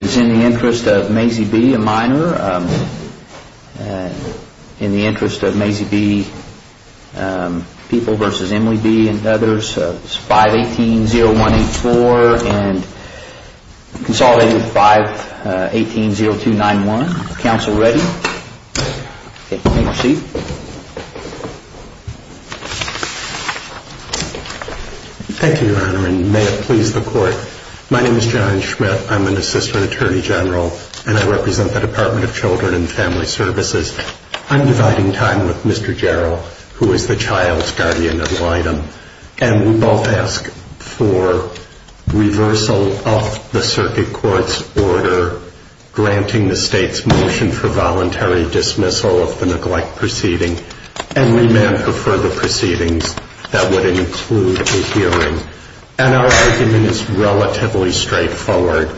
It's in the interest of Mazie B, a minor, in the interest of Mazie B, People v. Emily B and others, 518-0184 and consolidated 518-0291. Counsel ready? Okay, you may proceed. Thank you, Your Honor, and may it please the Court. My name is John Schmidt. I'm an Assistant Attorney General, and I represent the Department of Children and Family Services. I'm dividing time with Mr. Jarrell, who is the child's guardian of Lydom, and we both ask for reversal of the circuit court's order, granting the state's motion for voluntary dismissal of the neglect proceeding, and remand for further proceedings that would include a hearing. And our argument is relatively straightforward.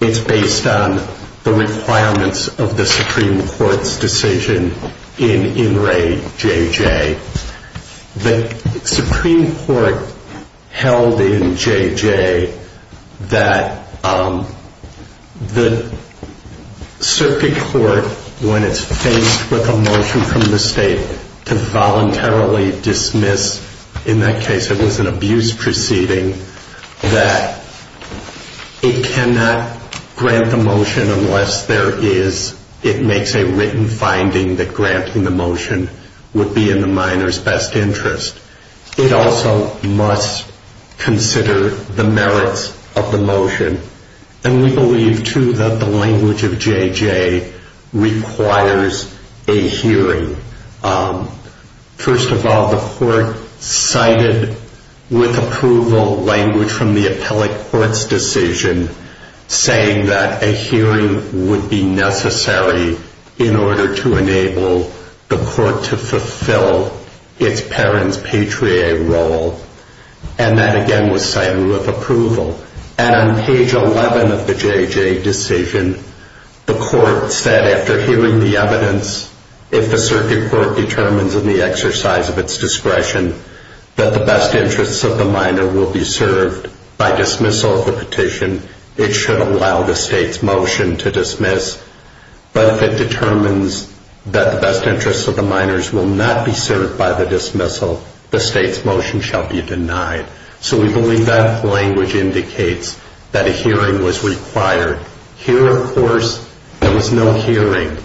It's based on the requirements of the Supreme Court's decision in In Re. J.J. The Supreme Court held in J.J. that the circuit court, when it's faced with a motion from the state to voluntarily dismiss, in that case it was an abuse proceeding, that it cannot grant the motion unless it makes a written finding that granting the motion would be in the minor's best interest. It also must consider the merits of the motion, and we believe, too, that the language of J.J. requires a hearing. First of all, the court cited with approval language from the appellate court's decision saying that a hearing would be necessary in order to enable the court to fulfill its parent's patria role, and that again was cited with approval. And on page 11 of the J.J. decision, the court said after hearing the evidence, if the circuit court determines in the exercise of its discretion that the best interests of the minor will be served by dismissal of the petition, it should allow the state's motion to dismiss. But if it determines that the best interests of the minors will not be served by the dismissal, the state's motion shall be denied. So we believe that language indicates that a hearing was required. Here, of course, there was no hearing.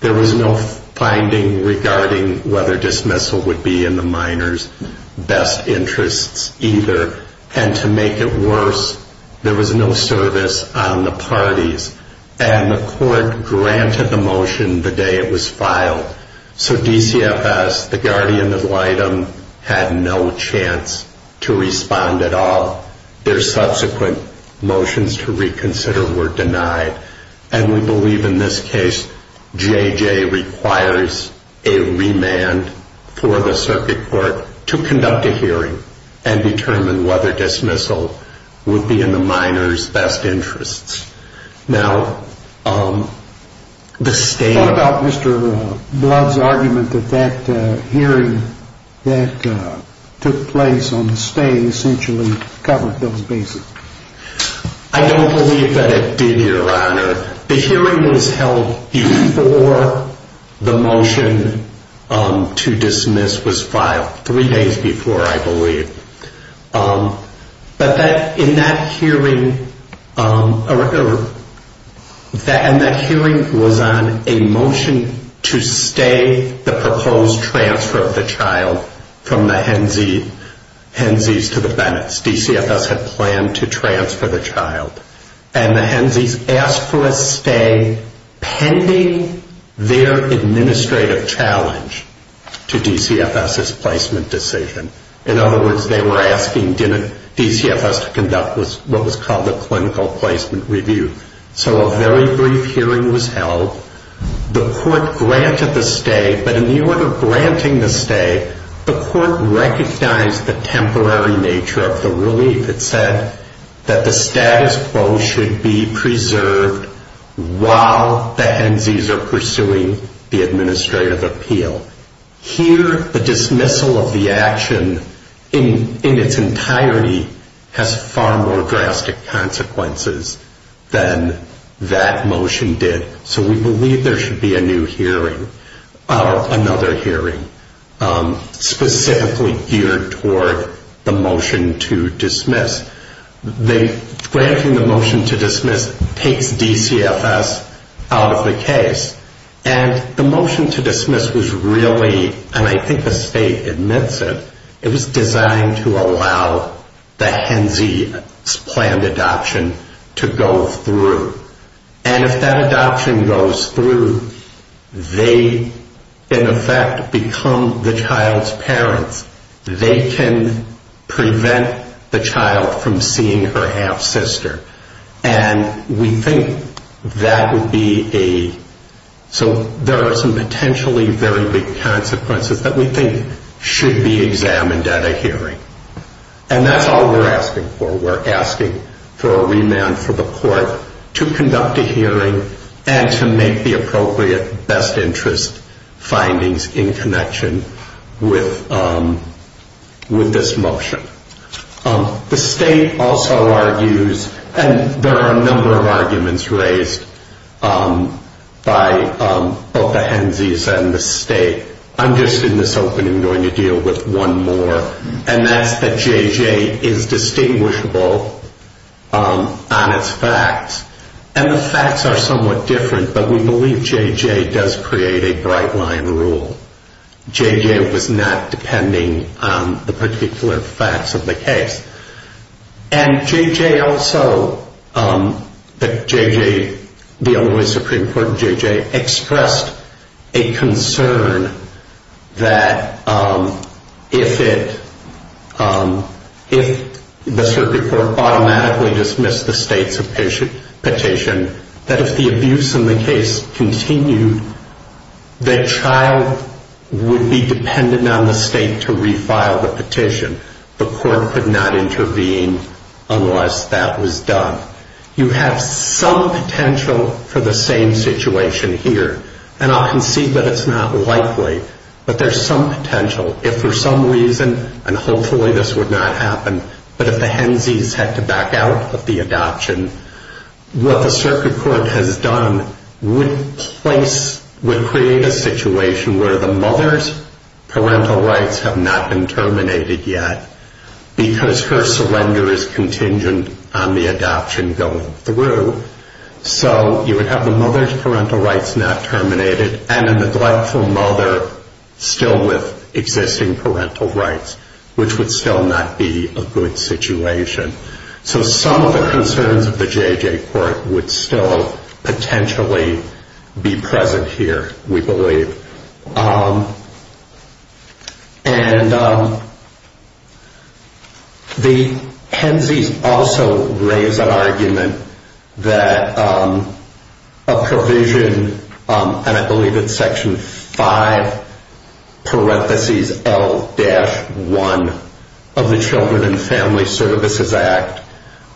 There was no finding regarding whether dismissal would be in the minor's best interests either, and to make it worse, there was no service on the parties, and the court granted the motion the day it was filed. So DCFS, the guardian ad litem, had no chance to respond at all. Their subsequent motions to reconsider were denied, and we believe in this case J.J. requires a remand for the circuit court to conduct a hearing and determine whether dismissal would be in the minor's best interests. What about Mr. Blood's argument that that hearing that took place on the stay essentially covered those bases? I don't believe that it did, Your Honor. The hearing was held before the motion to dismiss was filed, three days before, I believe. And that hearing was on a motion to stay the proposed transfer of the child from the Hensies to the Bennetts. DCFS had planned to transfer the child, and the Hensies asked for a stay pending their administrative challenge to DCFS's placement decision. In other words, they were asking DCFS to conduct what was called a clinical placement review. So a very brief hearing was held. The court granted the stay, but in the order of granting the stay, the court recognized the temporary nature of the relief. It said that the status quo should be preserved while the Hensies are pursuing the administrative appeal. Here, the dismissal of the action in its entirety has far more drastic consequences than that motion did. So we believe there should be a new hearing, or another hearing, specifically geared toward the motion to dismiss. The granting the motion to dismiss takes DCFS out of the case. And the motion to dismiss was really, and I think the state admits it, it was designed to allow the Hensies' planned adoption to go through. And if that adoption goes through, they in effect become the child's parents. They can prevent the child from seeing her half-sister. And we think that would be a, so there are some potentially very big consequences that we think should be examined at a hearing. And that's all we're asking for. We're asking for a remand for the court to conduct a hearing and to make the appropriate best interest findings in connection with this motion. The state also argues, and there are a number of arguments raised by both the Hensies and the state. I'm just in this opening going to deal with one more, and that's that JJ is distinguishable on its facts. And the facts are somewhat different, but we believe JJ does create a bright line rule. JJ was not depending on the particular facts of the case. And JJ also, the Illinois Supreme Court, JJ expressed a concern that if the circuit court automatically dismissed the state's petition, that if the abuse in the case continued, the child would be dependent on the state to refile the petition. The court could not intervene unless that was done. You have some potential for the same situation here. And I'll concede that it's not likely, but there's some potential. If for some reason, and hopefully this would not happen, but if the Hensies had to back out of the adoption, what the circuit court has done would place, would create a situation where the mother's parental rights have not been terminated yet because her surrender is contingent on the adoption going through. So you would have the mother's parental rights not terminated and a neglectful mother still with existing parental rights, which would still not be a good situation. So some of the concerns of the JJ court would still potentially be present here, we believe. And the Hensies also raise an argument that a provision, and I believe it's section 5, parenthesis L-1 of the Children and Family Services Act,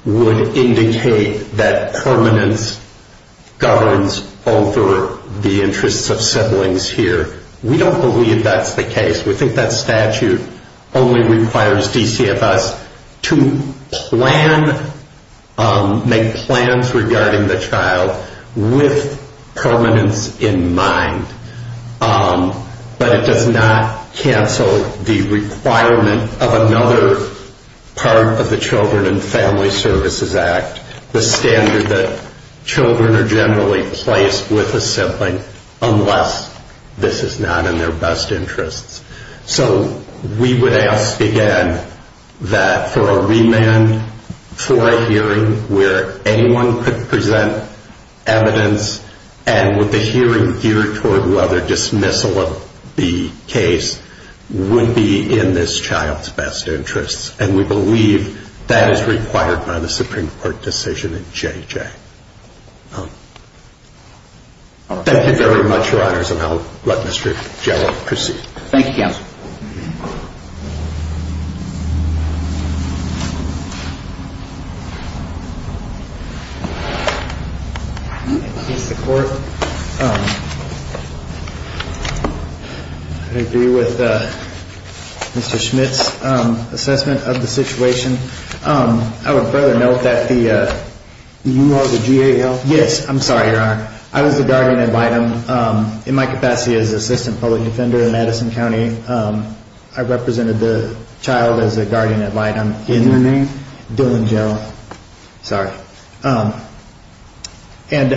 would indicate that permanence governs over the interests of siblings here. We don't believe that's the case. We think that statute only requires DCFS to make plans regarding the child with permanence in mind. But it does not cancel the requirement of another part of the Children and Family Services Act, the standard that children are generally placed with a sibling unless this is not in their best interests. So we would ask again that for a remand for a hearing where anyone could present evidence and with the hearing geared toward whether dismissal of the case would be in this child's best interests. And we believe that is required by the Supreme Court decision in JJ. Thank you very much, Your Honors, and I'll let Mr. Gellar proceed. I agree with Mr. Schmidt's assessment of the situation. I would further note that the… You are the GAL? Yes, I'm sorry, Your Honor. I was the guardian ad litem in my capacity as assistant public defender in Edison County. I represented the child as a guardian ad litem in… What's your name? Dylan Gellar. Sorry. And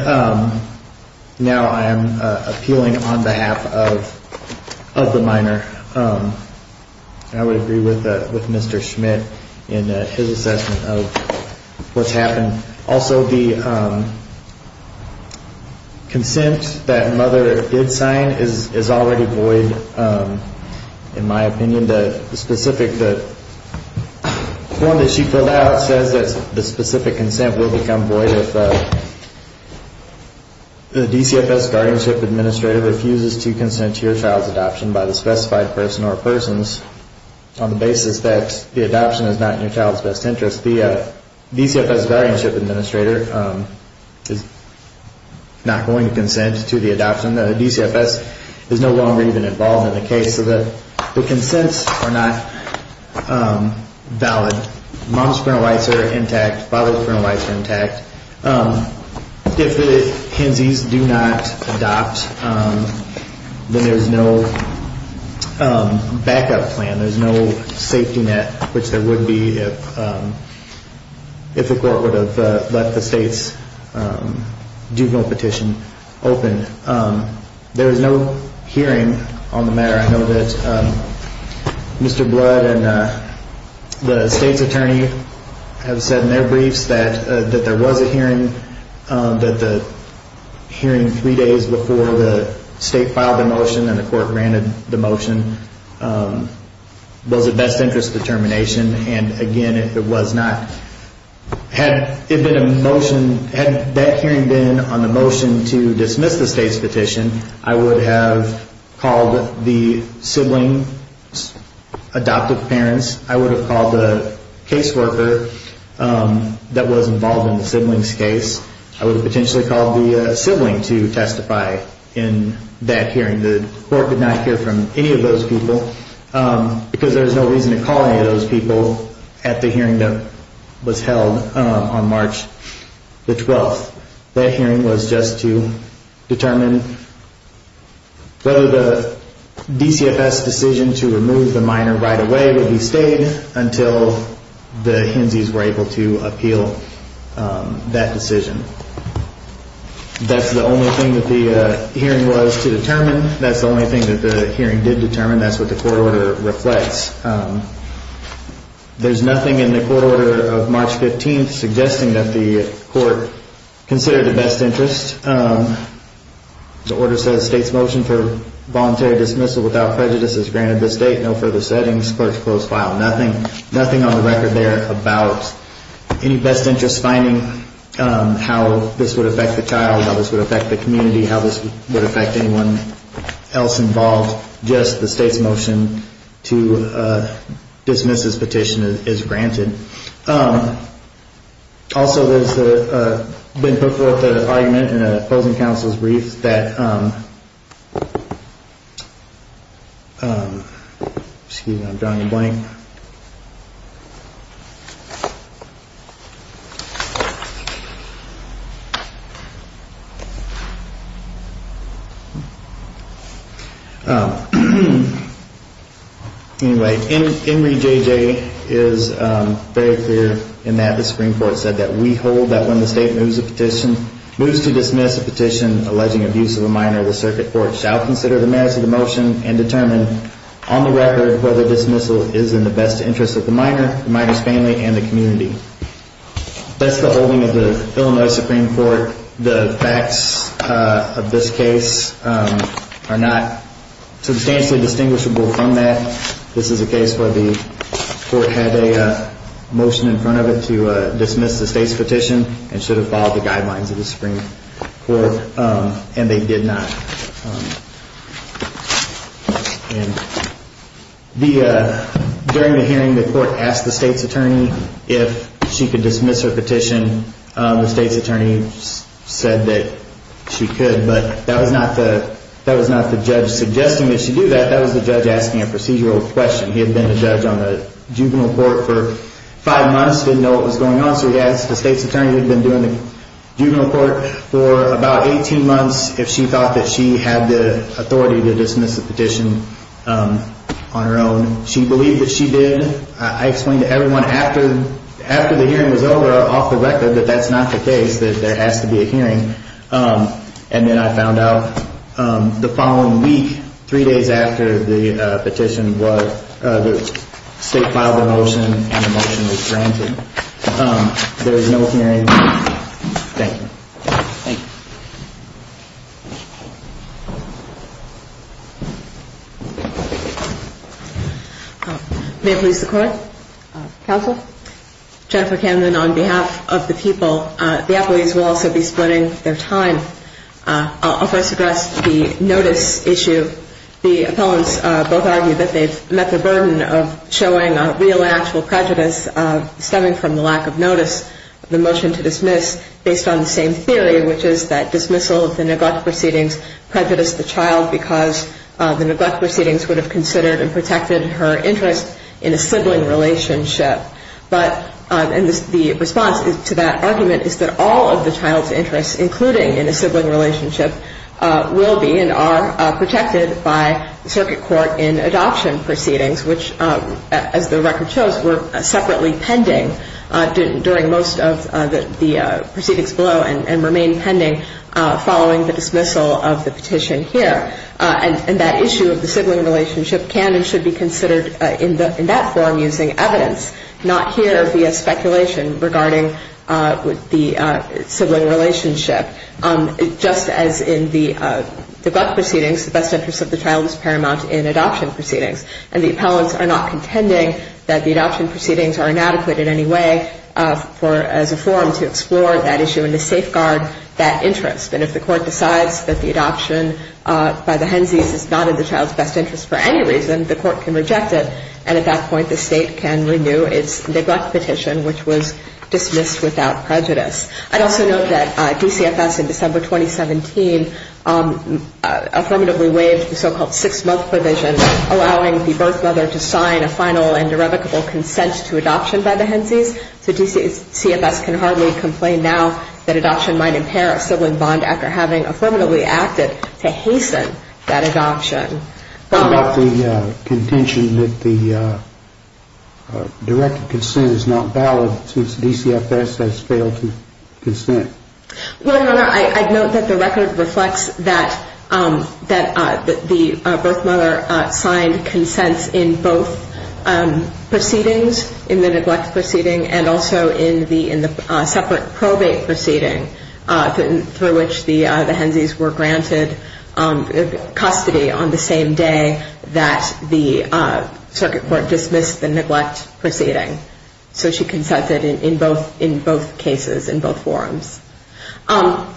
now I am appealing on behalf of the minor. I would agree with Mr. Schmidt in his assessment of what's happened. Also, the consent that mother did sign is already void in my opinion. The specific…the form that she filled out says that the specific consent will become void if the DCFS guardianship administrative refuses to consent to your child's adoption by the specified person or persons on the basis that the adoption is not in your child's best interest. The DCFS guardianship administrator is not going to consent to the adoption. The DCFS is no longer even involved in the case. So the consents are not valid. If the Hensies do not adopt, then there's no backup plan. There's no safety net, which there would be if the court would have let the state's juvenile petition open. And there was no hearing on the matter. I know that Mr. Blood and the state's attorney have said in their briefs that there was a hearing, that the hearing three days before the state filed the motion and the court granted the motion was a best interest determination. And again, if it was not…had it been a motion…had that hearing been on the motion to dismiss the state's petition, I would have called the sibling's adoptive parents. I would have called the caseworker that was involved in the sibling's case. I would have potentially called the sibling to testify in that hearing. The court did not hear from any of those people because there was no reason to call any of those people at the hearing that was held on March the 12th. That hearing was just to determine whether the DCFS decision to remove the minor right away would be stayed until the Hensies were able to appeal that decision. That's the only thing that the hearing was to determine. That's the only thing that the hearing did determine. That's what the court order reflects. There's nothing in the court order of March 15th suggesting that the court considered a best interest. The order says state's motion for voluntary dismissal without prejudice is granted this date. No further settings. Clerk to close file. Nothing on the record there about any best interest finding how this would affect the child, how this would affect the community, how this would affect anyone else involved. Just the state's motion to dismiss this petition is granted. Also there's been put forth an argument in an opposing counsel's brief that, excuse me I'm drawing a blank. Anyway, Emory J.J. is very clear in that the Supreme Court said that we hold that when the state moves to dismiss a petition alleging abuse of a minor, the circuit court shall consider the merits of the motion and determine on the record whether dismissal is in the best interest of the child. In the best interest of the minor, the minor's family and the community. That's the holding of the Illinois Supreme Court. The facts of this case are not substantially distinguishable from that. This is a case where the court had a motion in front of it to dismiss the state's petition and should have followed the guidelines of the Supreme Court and they did not. During the hearing the court asked the state's attorney if she could dismiss her petition. The state's attorney said that she could but that was not the judge suggesting that she do that, that was the judge asking a procedural question. He had been a judge on the juvenile court for five months, didn't know what was going on so he asked the state's attorney who had been doing the juvenile court for about 18 months if she thought that she had the authority to dismiss the petition on her own. She believed that she did. I explained to everyone after the hearing was over off the record that that's not the case, that there has to be a hearing. And then I found out the following week, three days after the petition was, the state filed a motion and the motion was granted. There is no hearing. Thank you. May it please the court. Counsel. Jennifer Camden on behalf of the people. The appellees will also be splitting their time. I'll first address the notice issue. The appellants both argue that they've met the burden of showing a real and actual prejudice stemming from the lack of notice of the motion to dismiss based on the same evidence. There's also the same theory, which is that dismissal of the neglect proceedings prejudiced the child because the neglect proceedings would have considered and protected her interest in a sibling relationship. And the response to that argument is that all of the child's interests, including in a sibling relationship, will be and are protected by the circuit court in adoption proceedings, which as the record shows were separately pending during most of the proceedings below and remain pending following the dismissal of the petition here. And that issue of the sibling relationship can and should be considered in that forum using evidence, not here via speculation regarding the sibling relationship. Just as in the neglect proceedings, the best interest of the child is paramount in adoption proceedings. And the appellants are not contending that the adoption proceedings are inadequate in any way for as a forum to explore that issue and to safeguard that interest. And if the court decides that the adoption by the Hensies is not in the child's best interest for any reason, the court can reject it. And at that point, the state can renew its neglect petition, which was dismissed without prejudice. I'd also note that DCFS in December 2017 affirmatively waived the so-called six-month provision allowing the birth mother to sign a final and irrevocable consent to adoption by the Hensies. So DCFS can hardly complain now that adoption might impair a sibling bond after having affirmatively acted to hasten that adoption. What about the contention that the direct consent is not valid since DCFS has failed to consent? Well, Your Honor, I'd note that the record reflects that the birth mother signed consents in both proceedings, in the neglect proceeding and also in the separate probate proceeding through which the Hensies were granted custody on the same day that the circuit court dismissed the neglect proceeding. So she consented in both cases, in both forums. On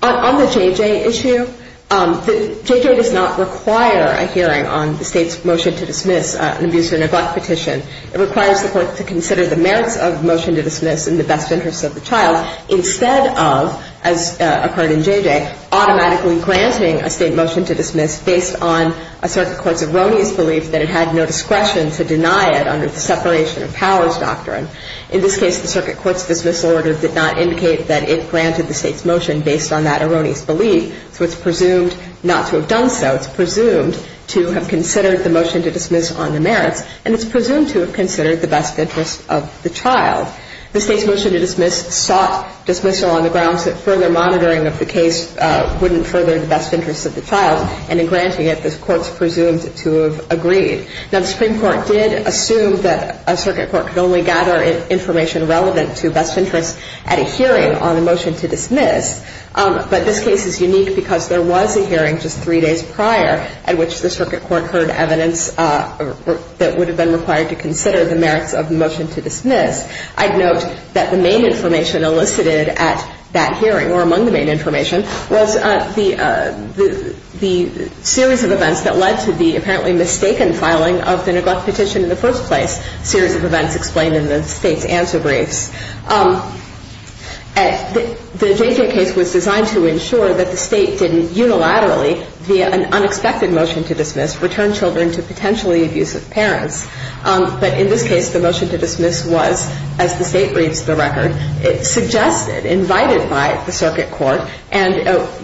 the JJ issue, JJ does not require a hearing on the state's motion to dismiss an abuser neglect petition. It requires the court to consider the merits of motion to dismiss in the best interest of the child instead of, as occurred in JJ, automatically granting a state motion to dismiss based on a circuit court's erroneous belief that it had no discretion to deny it under the separation of powers doctrine. In this case, the circuit court's dismissal order did not indicate that it granted the state's motion based on that erroneous belief. So it's presumed not to have done so. It's presumed to have considered the motion to dismiss on the merits, and it's presumed to have considered the best interest of the child. The state's motion to dismiss sought dismissal on the grounds that further monitoring of the case wouldn't further the best interest of the child, and in granting it, the court's presumed to have agreed. Now, the Supreme Court did assume that a circuit court could only gather information relevant to best interest at a hearing on the motion to dismiss. But this case is unique because there was a hearing just three days prior at which the circuit court heard evidence that would have been required to consider the merits of the motion to dismiss. I'd note that the main information elicited at that hearing, or among the main information, was the series of events that led to the apparently mistaken filing of the neglect petition in the first place, a series of events explained in the state's answer briefs. The JJ case was designed to ensure that the state didn't unilaterally, via an unexpected motion to dismiss, return children to potentially abusive parents. But in this case, the motion to dismiss was, as the state reads the record, suggested, invited by the circuit court, and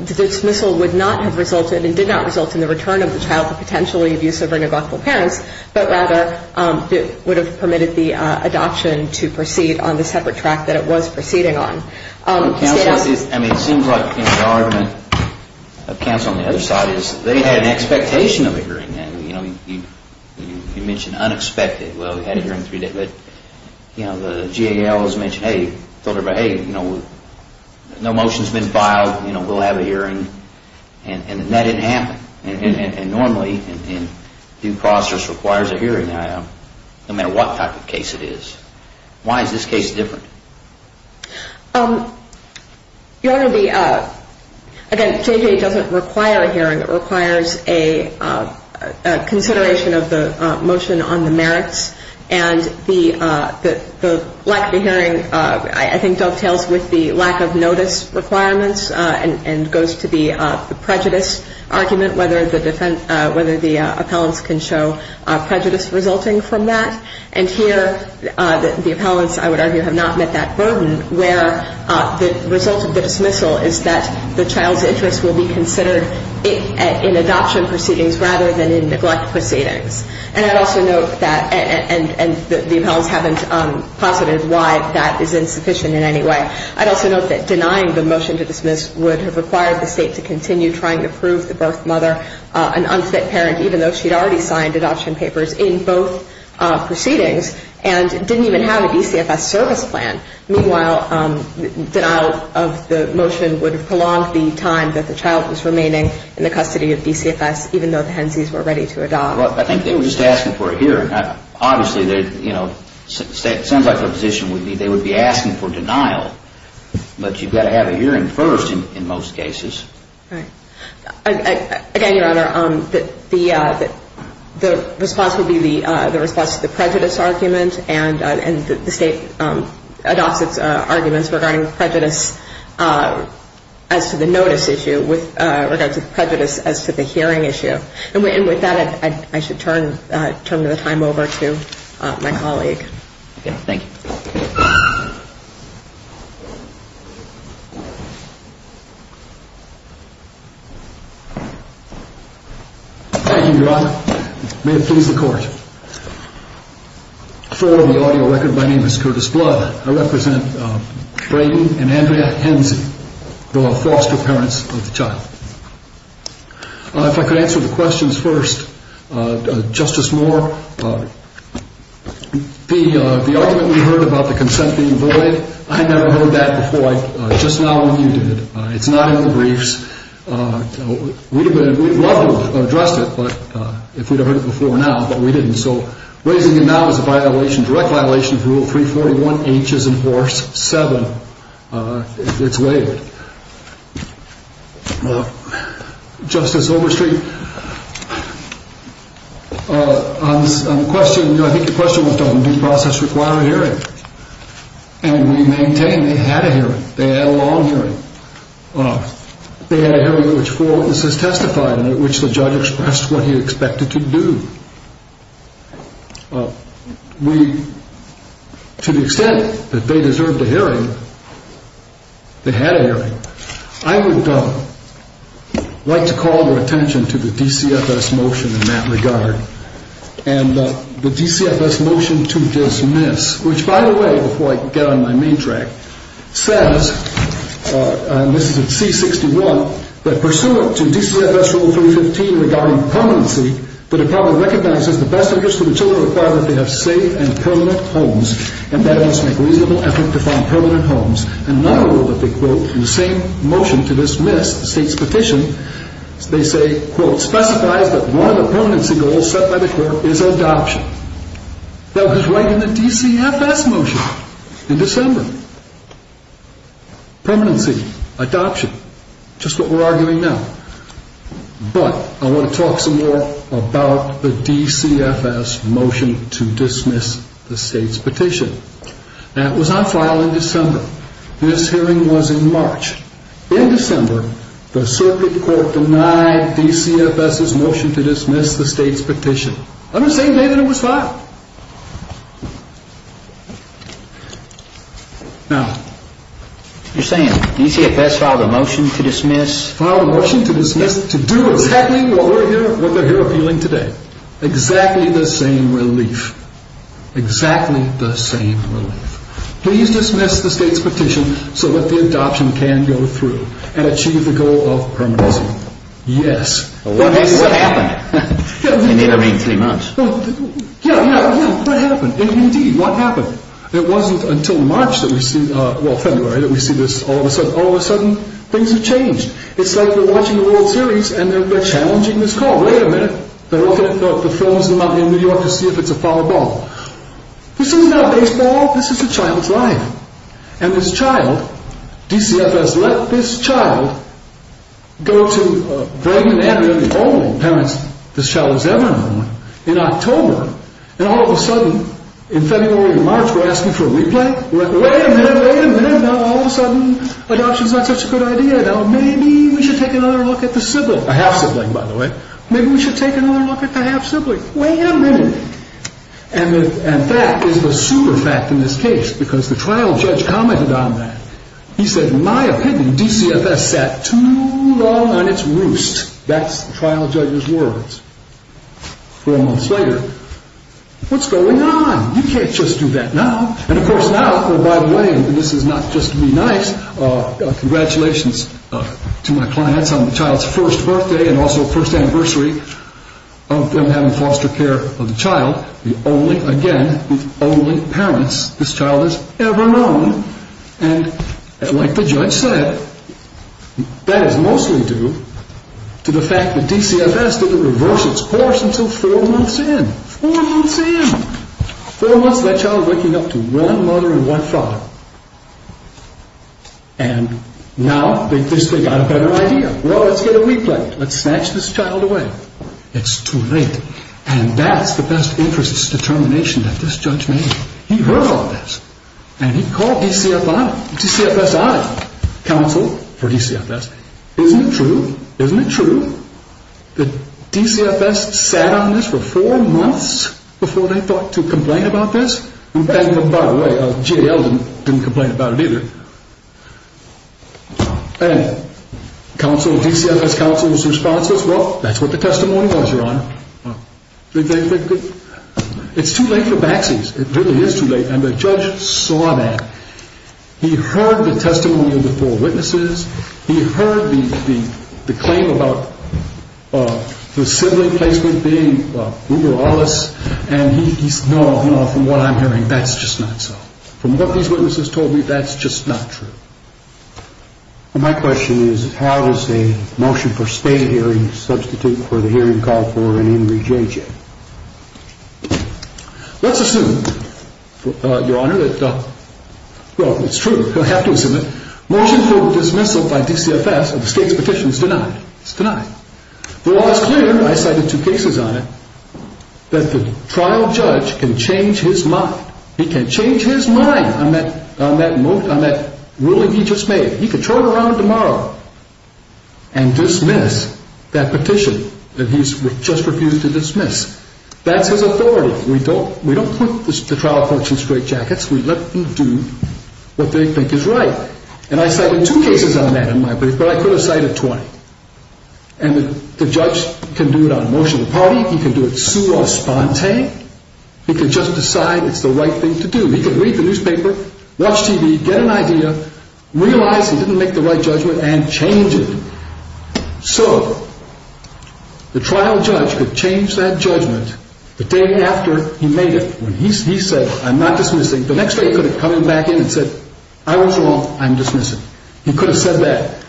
the dismissal would not have resulted and did not result in the return of the child to potentially abusive or neglectful parents, but rather would have permitted the adoption to proceed on the separate track that it was proceeding on. It seems like the argument of counsel on the other side is they had an expectation of a hearing. You mentioned unexpected. Well, we had a hearing three days. But the GAL has mentioned, hey, no motion's been filed. We'll have a hearing. And that didn't happen. And normally, due process requires a hearing no matter what type of case it is. Why is this case different? Your Honor, the, again, JJ doesn't require a hearing. It requires a consideration of the motion on the merits. And the lack of a hearing, I think, dovetails with the lack of notice requirements and goes to the prejudice argument, whether the defense, whether the appellants can show prejudice resulting from that. And here, the appellants, I would argue, have not met that burden, where the result of the dismissal is that the child's interest will be considered in adoption proceedings rather than in neglect proceedings. And I'd also note that, and the appellants haven't posited why that is insufficient in any way. I'd also note that denying the motion to dismiss would have required the state to continue trying to prove the birth mother an unfit parent, even though she'd already signed adoption papers in both proceedings and didn't even have a DCFS service plan. Meanwhile, denial of the motion would have prolonged the time that the child was remaining in the custody of DCFS, even though the Hensies were ready to adopt. Well, I think they were just asking for a hearing. Obviously, you know, it sounds like the position would be they would be asking for denial, but you've got to have a hearing first in most cases. Right. Again, Your Honor, the response would be the response to the prejudice argument, and the state adopts its arguments regarding prejudice as to the notice issue with regards to prejudice as to the hearing issue. And with that, I should turn the time over to my colleague. Thank you. Thank you, Your Honor. May it please the Court. For the audio record, my name is Curtis Blood. I represent Brady and Andrea Hensie, the foster parents of the child. If I could answer the questions first. Justice Moore, the argument we heard about the consent being void, I never heard that before, just now when you did it. It's not in the briefs. We'd have loved to have addressed it if we'd have heard it before now, but we didn't. So raising it now is a violation, a direct violation of Rule 341H and Force 7. It's waived. Justice Overstreet, on the question, I think the question was done, due process require a hearing. And we maintain they had a hearing. They had a long hearing. They had a hearing at which four witnesses testified and at which the judge expressed what he expected to do. We, to the extent that they deserved a hearing, they had a hearing. I would like to call your attention to the DCFS motion in that regard. And the DCFS motion to dismiss, which, by the way, before I get on my main track, says, and this is at C-61, that pursuant to DCFS Rule 315 regarding permanency, the Department recognizes the best interest of the children required that they have safe and permanent homes and that it must make a reasonable effort to find permanent homes. And another rule that they quote in the same motion to dismiss the state's petition, they say, quote, specifies that one of the permanency goals set by the court is adoption. That was right in the DCFS motion in December. Permanency, adoption, just what we're arguing now. But I want to talk some more about the DCFS motion to dismiss the state's petition. Now, it was on file in December. This hearing was in March. In December, the circuit court denied DCFS's motion to dismiss the state's petition. On the same day that it was filed. Now, you're saying DCFS filed a motion to dismiss? Filed a motion to dismiss to do exactly what we're here, what they're here appealing today. Exactly the same relief. Exactly the same relief. Please dismiss the state's petition so that the adoption can go through and achieve the goal of permanency. Yes. What happened? In the intervening three months. Yeah, yeah, yeah. What happened? Indeed, what happened? It wasn't until March that we see, well, February, that we see this all of a sudden. All of a sudden, things have changed. It's like they're watching the World Series and they're challenging this call. Wait a minute. They're looking at the films in New York to see if it's a foul ball. This is not baseball. This is a child's life. And this child, DCFS let this child go to Greg and Andrea, the only parents this child has ever known, in October. And all of a sudden, in February and March, we're asking for a replay. We're like, wait a minute, wait a minute. Now, all of a sudden, adoption's not such a good idea. Now, maybe we should take another look at the sibling. A half-sibling, by the way. Maybe we should take another look at the half-sibling. Wait a minute. And that is the super fact in this case because the trial judge commented on that. He said, in my opinion, DCFS sat too long on its roost. That's the trial judge's words. Four months later, what's going on? You can't just do that now. And, of course, now, oh, by the way, and this is not just to be nice, congratulations to my clients on the child's first birthday and also first anniversary of them having foster care of the child, the only, again, the only parents this child has ever known. And like the judge said, that is mostly due to the fact that DCFS didn't reverse its course until four months in. Four months in. Four months, that child is waking up to one mother and one father. And now, they've got a better idea. Well, let's get it replayed. Let's snatch this child away. It's too late. And that's the best interest determination that this judge made. He heard all this. And he called DCFS on it. Counsel for DCFS. Isn't it true? Isn't it true? The DCFS sat on this for four months before they thought to complain about this? And, by the way, JL didn't complain about it either. And DCFS counsel's response was, well, that's what the testimony was, Your Honor. It's too late for backsies. It really is too late. And the judge saw that. He heard the testimony of the four witnesses. He heard the claim about the sibling placement being Uber Wallace. And he said, no, no, from what I'm hearing, that's just not so. From what these witnesses told me, that's just not true. Well, my question is, how does a motion for stay hearing substitute for the hearing called for in Henry J.J.? Let's assume, Your Honor, that, well, it's true. You'll have to assume it. A motion for dismissal by DCFS of the state's petition is denied. It's denied. The law is clear. I cited two cases on it. That the trial judge can change his mind. He can change his mind on that ruling he just made. He can turn around tomorrow and dismiss that petition that he's just refused to dismiss. That's his authority. We don't put the trial court in straitjackets. We let them do what they think is right. And I cited two cases on that, in my opinion. But I could have cited 20. And the judge can do it on motion of the party. He can do it sur la sponte. He can just decide it's the right thing to do. He can read the newspaper, watch TV, get an idea, realize he didn't make the right judgment, and change it. So the trial judge could change that judgment the day after he made it. He said, I'm not dismissing. The next day he could have come back in and said, I was wrong. I'm dismissing. He could have said that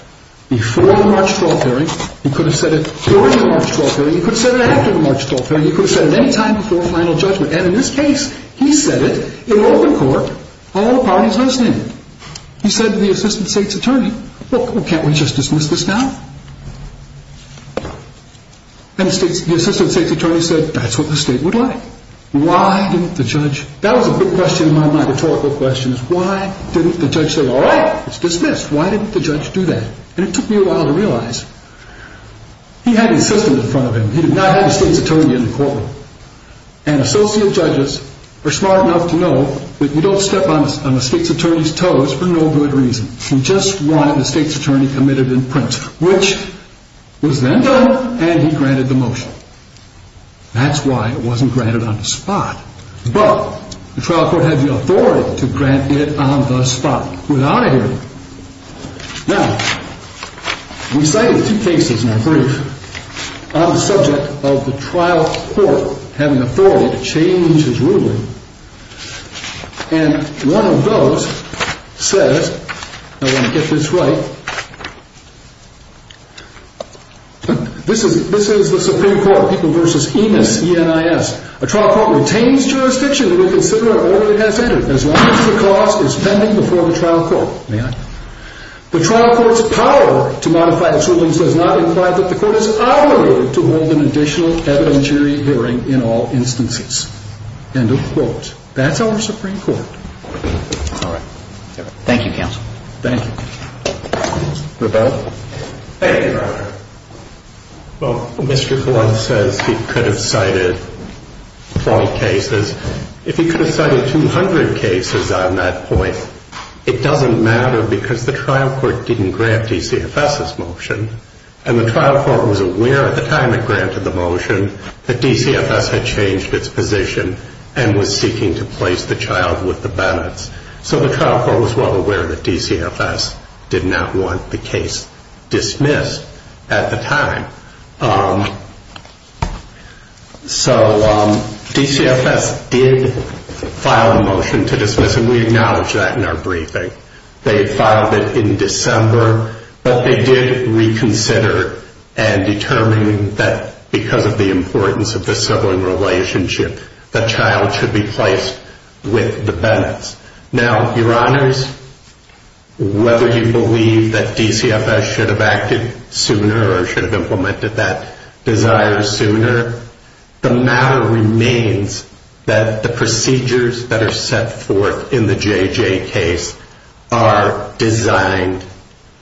before the March 12th hearing. He could have said it during the March 12th hearing. He could have said it after the March 12th hearing. He could have said it any time before final judgment. And in this case, he said it in open court. All the parties listening. He said to the assistant state's attorney, look, can't we just dismiss this now? And the assistant state's attorney said, that's what the state would like. Why didn't the judge? That was a big question in my mind, rhetorical question. Why didn't the judge say, all right, it's dismissed. Why didn't the judge do that? And it took me a while to realize. He had his assistant in front of him. He did not have the state's attorney in the courtroom. And associate judges are smart enough to know that you don't step on the state's attorney's toes for no good reason. You just wanted the state's attorney committed in print. Which was then done, and he granted the motion. That's why it wasn't granted on the spot. But the trial court had the authority to grant it on the spot. We're out of here. Now, we cited two cases in our brief on the subject of the trial court having authority to change his ruling. And one of those says, I want to get this right. This is the Supreme Court, People v. Enis, E-N-I-S. A trial court retains jurisdiction to reconsider an order it has entered as long as the cause is pending before the trial court. May I? The trial court's power to modify its rulings does not imply that the court is obligated to hold an additional evidentiary hearing in all instances. End of quote. That's our Supreme Court. All right. Thank you, counsel. Thank you. Rebecca? Thank you, Your Honor. Well, Mr. Blunt says he could have cited 20 cases. If he could have cited 200 cases on that point, it doesn't matter because the trial court didn't grant DCFS's motion. And the trial court was aware at the time it granted the motion that DCFS had changed its position and was seeking to place the child with the Bennetts. So the trial court was well aware that DCFS did not want the case dismissed at the time. So DCFS did file a motion to dismiss, and we acknowledge that in our briefing. They filed it in December, but they did reconsider and determine that because of the importance of the sibling relationship, the child should be placed with the Bennetts. Now, Your Honors, whether you believe that DCFS should have acted sooner or should have implemented that desire sooner, the matter remains that the procedures that are set forth in the JJ case are designed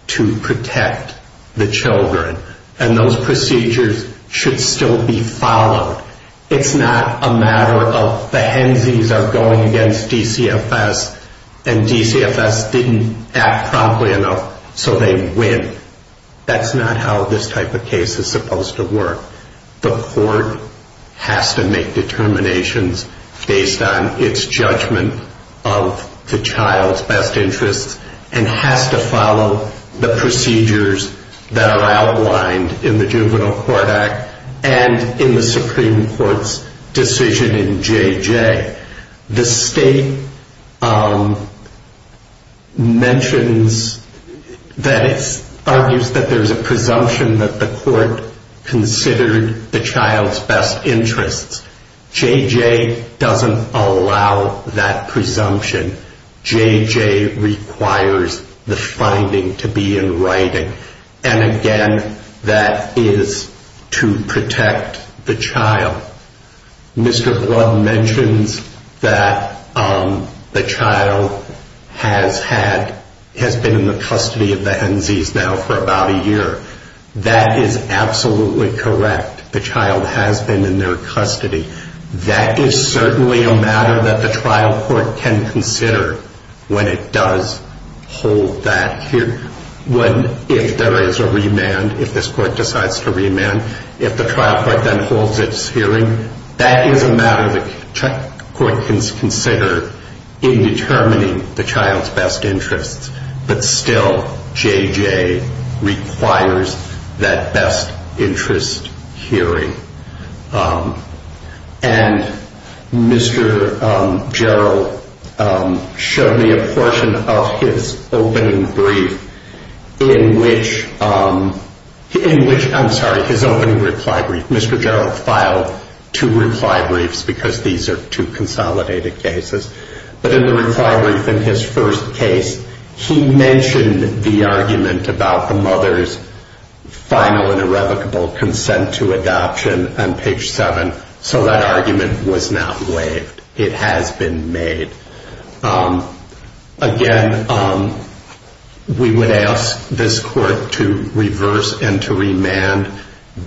to protect the children. And those procedures should still be followed. It's not a matter of the Hensies are going against DCFS and DCFS didn't act promptly enough, so they win. That's not how this type of case is supposed to work. The court has to make determinations based on its judgment of the child's best interests and has to follow the procedures that are outlined in the Juvenile Court Act and in the Supreme Court's decision in JJ. The state mentions that it argues that there's a presumption that the court considered the child's best interests. JJ doesn't allow that presumption. JJ requires the finding to be in writing. And again, that is to protect the child. Mr. Blood mentions that the child has been in the custody of the Hensies now for about a year. That is absolutely correct. The child has been in their custody. That is certainly a matter that the trial court can consider when it does hold that hearing. If there is a remand, if this court decides to remand, if the trial court then holds its hearing, that is a matter the court can consider in determining the child's best interests. But still, JJ requires that best interest hearing. And Mr. Jarrell showed me a portion of his opening brief in which, I'm sorry, his opening reply brief. Mr. Jarrell filed two reply briefs because these are two consolidated cases. But in the reply brief in his first case, he mentioned the argument about the mother's final and irrevocable consent to adoption on page 7. So that argument was not waived. It has been made. Again, we would ask this court to reverse and to remand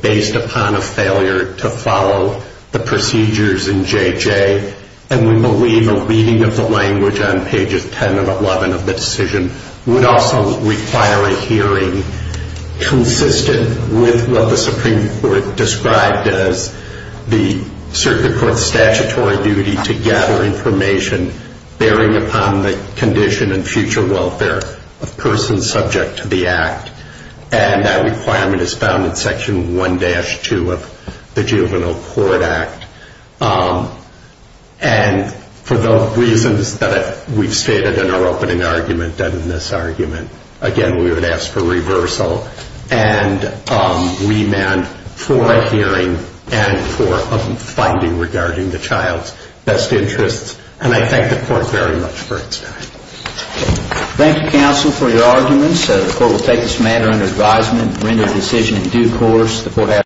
based upon a failure to follow the procedures in JJ. And we believe a reading of the language on pages 10 and 11 of the decision would also require a hearing consistent with what the Supreme Court described as the circuit court's statutory duty to gather information bearing upon the condition and future welfare of persons subject to the act. And that requirement is found in section 1-2 of the Juvenile Court Act. And for the reasons that we've stated in our opening argument and in this argument, again, we would ask for reversal and remand for a hearing and for a finding regarding the child's best interests. And I thank the court very much for its time. Thank you, counsel, for your arguments. The court will take this matter under advisement and render a decision in due course.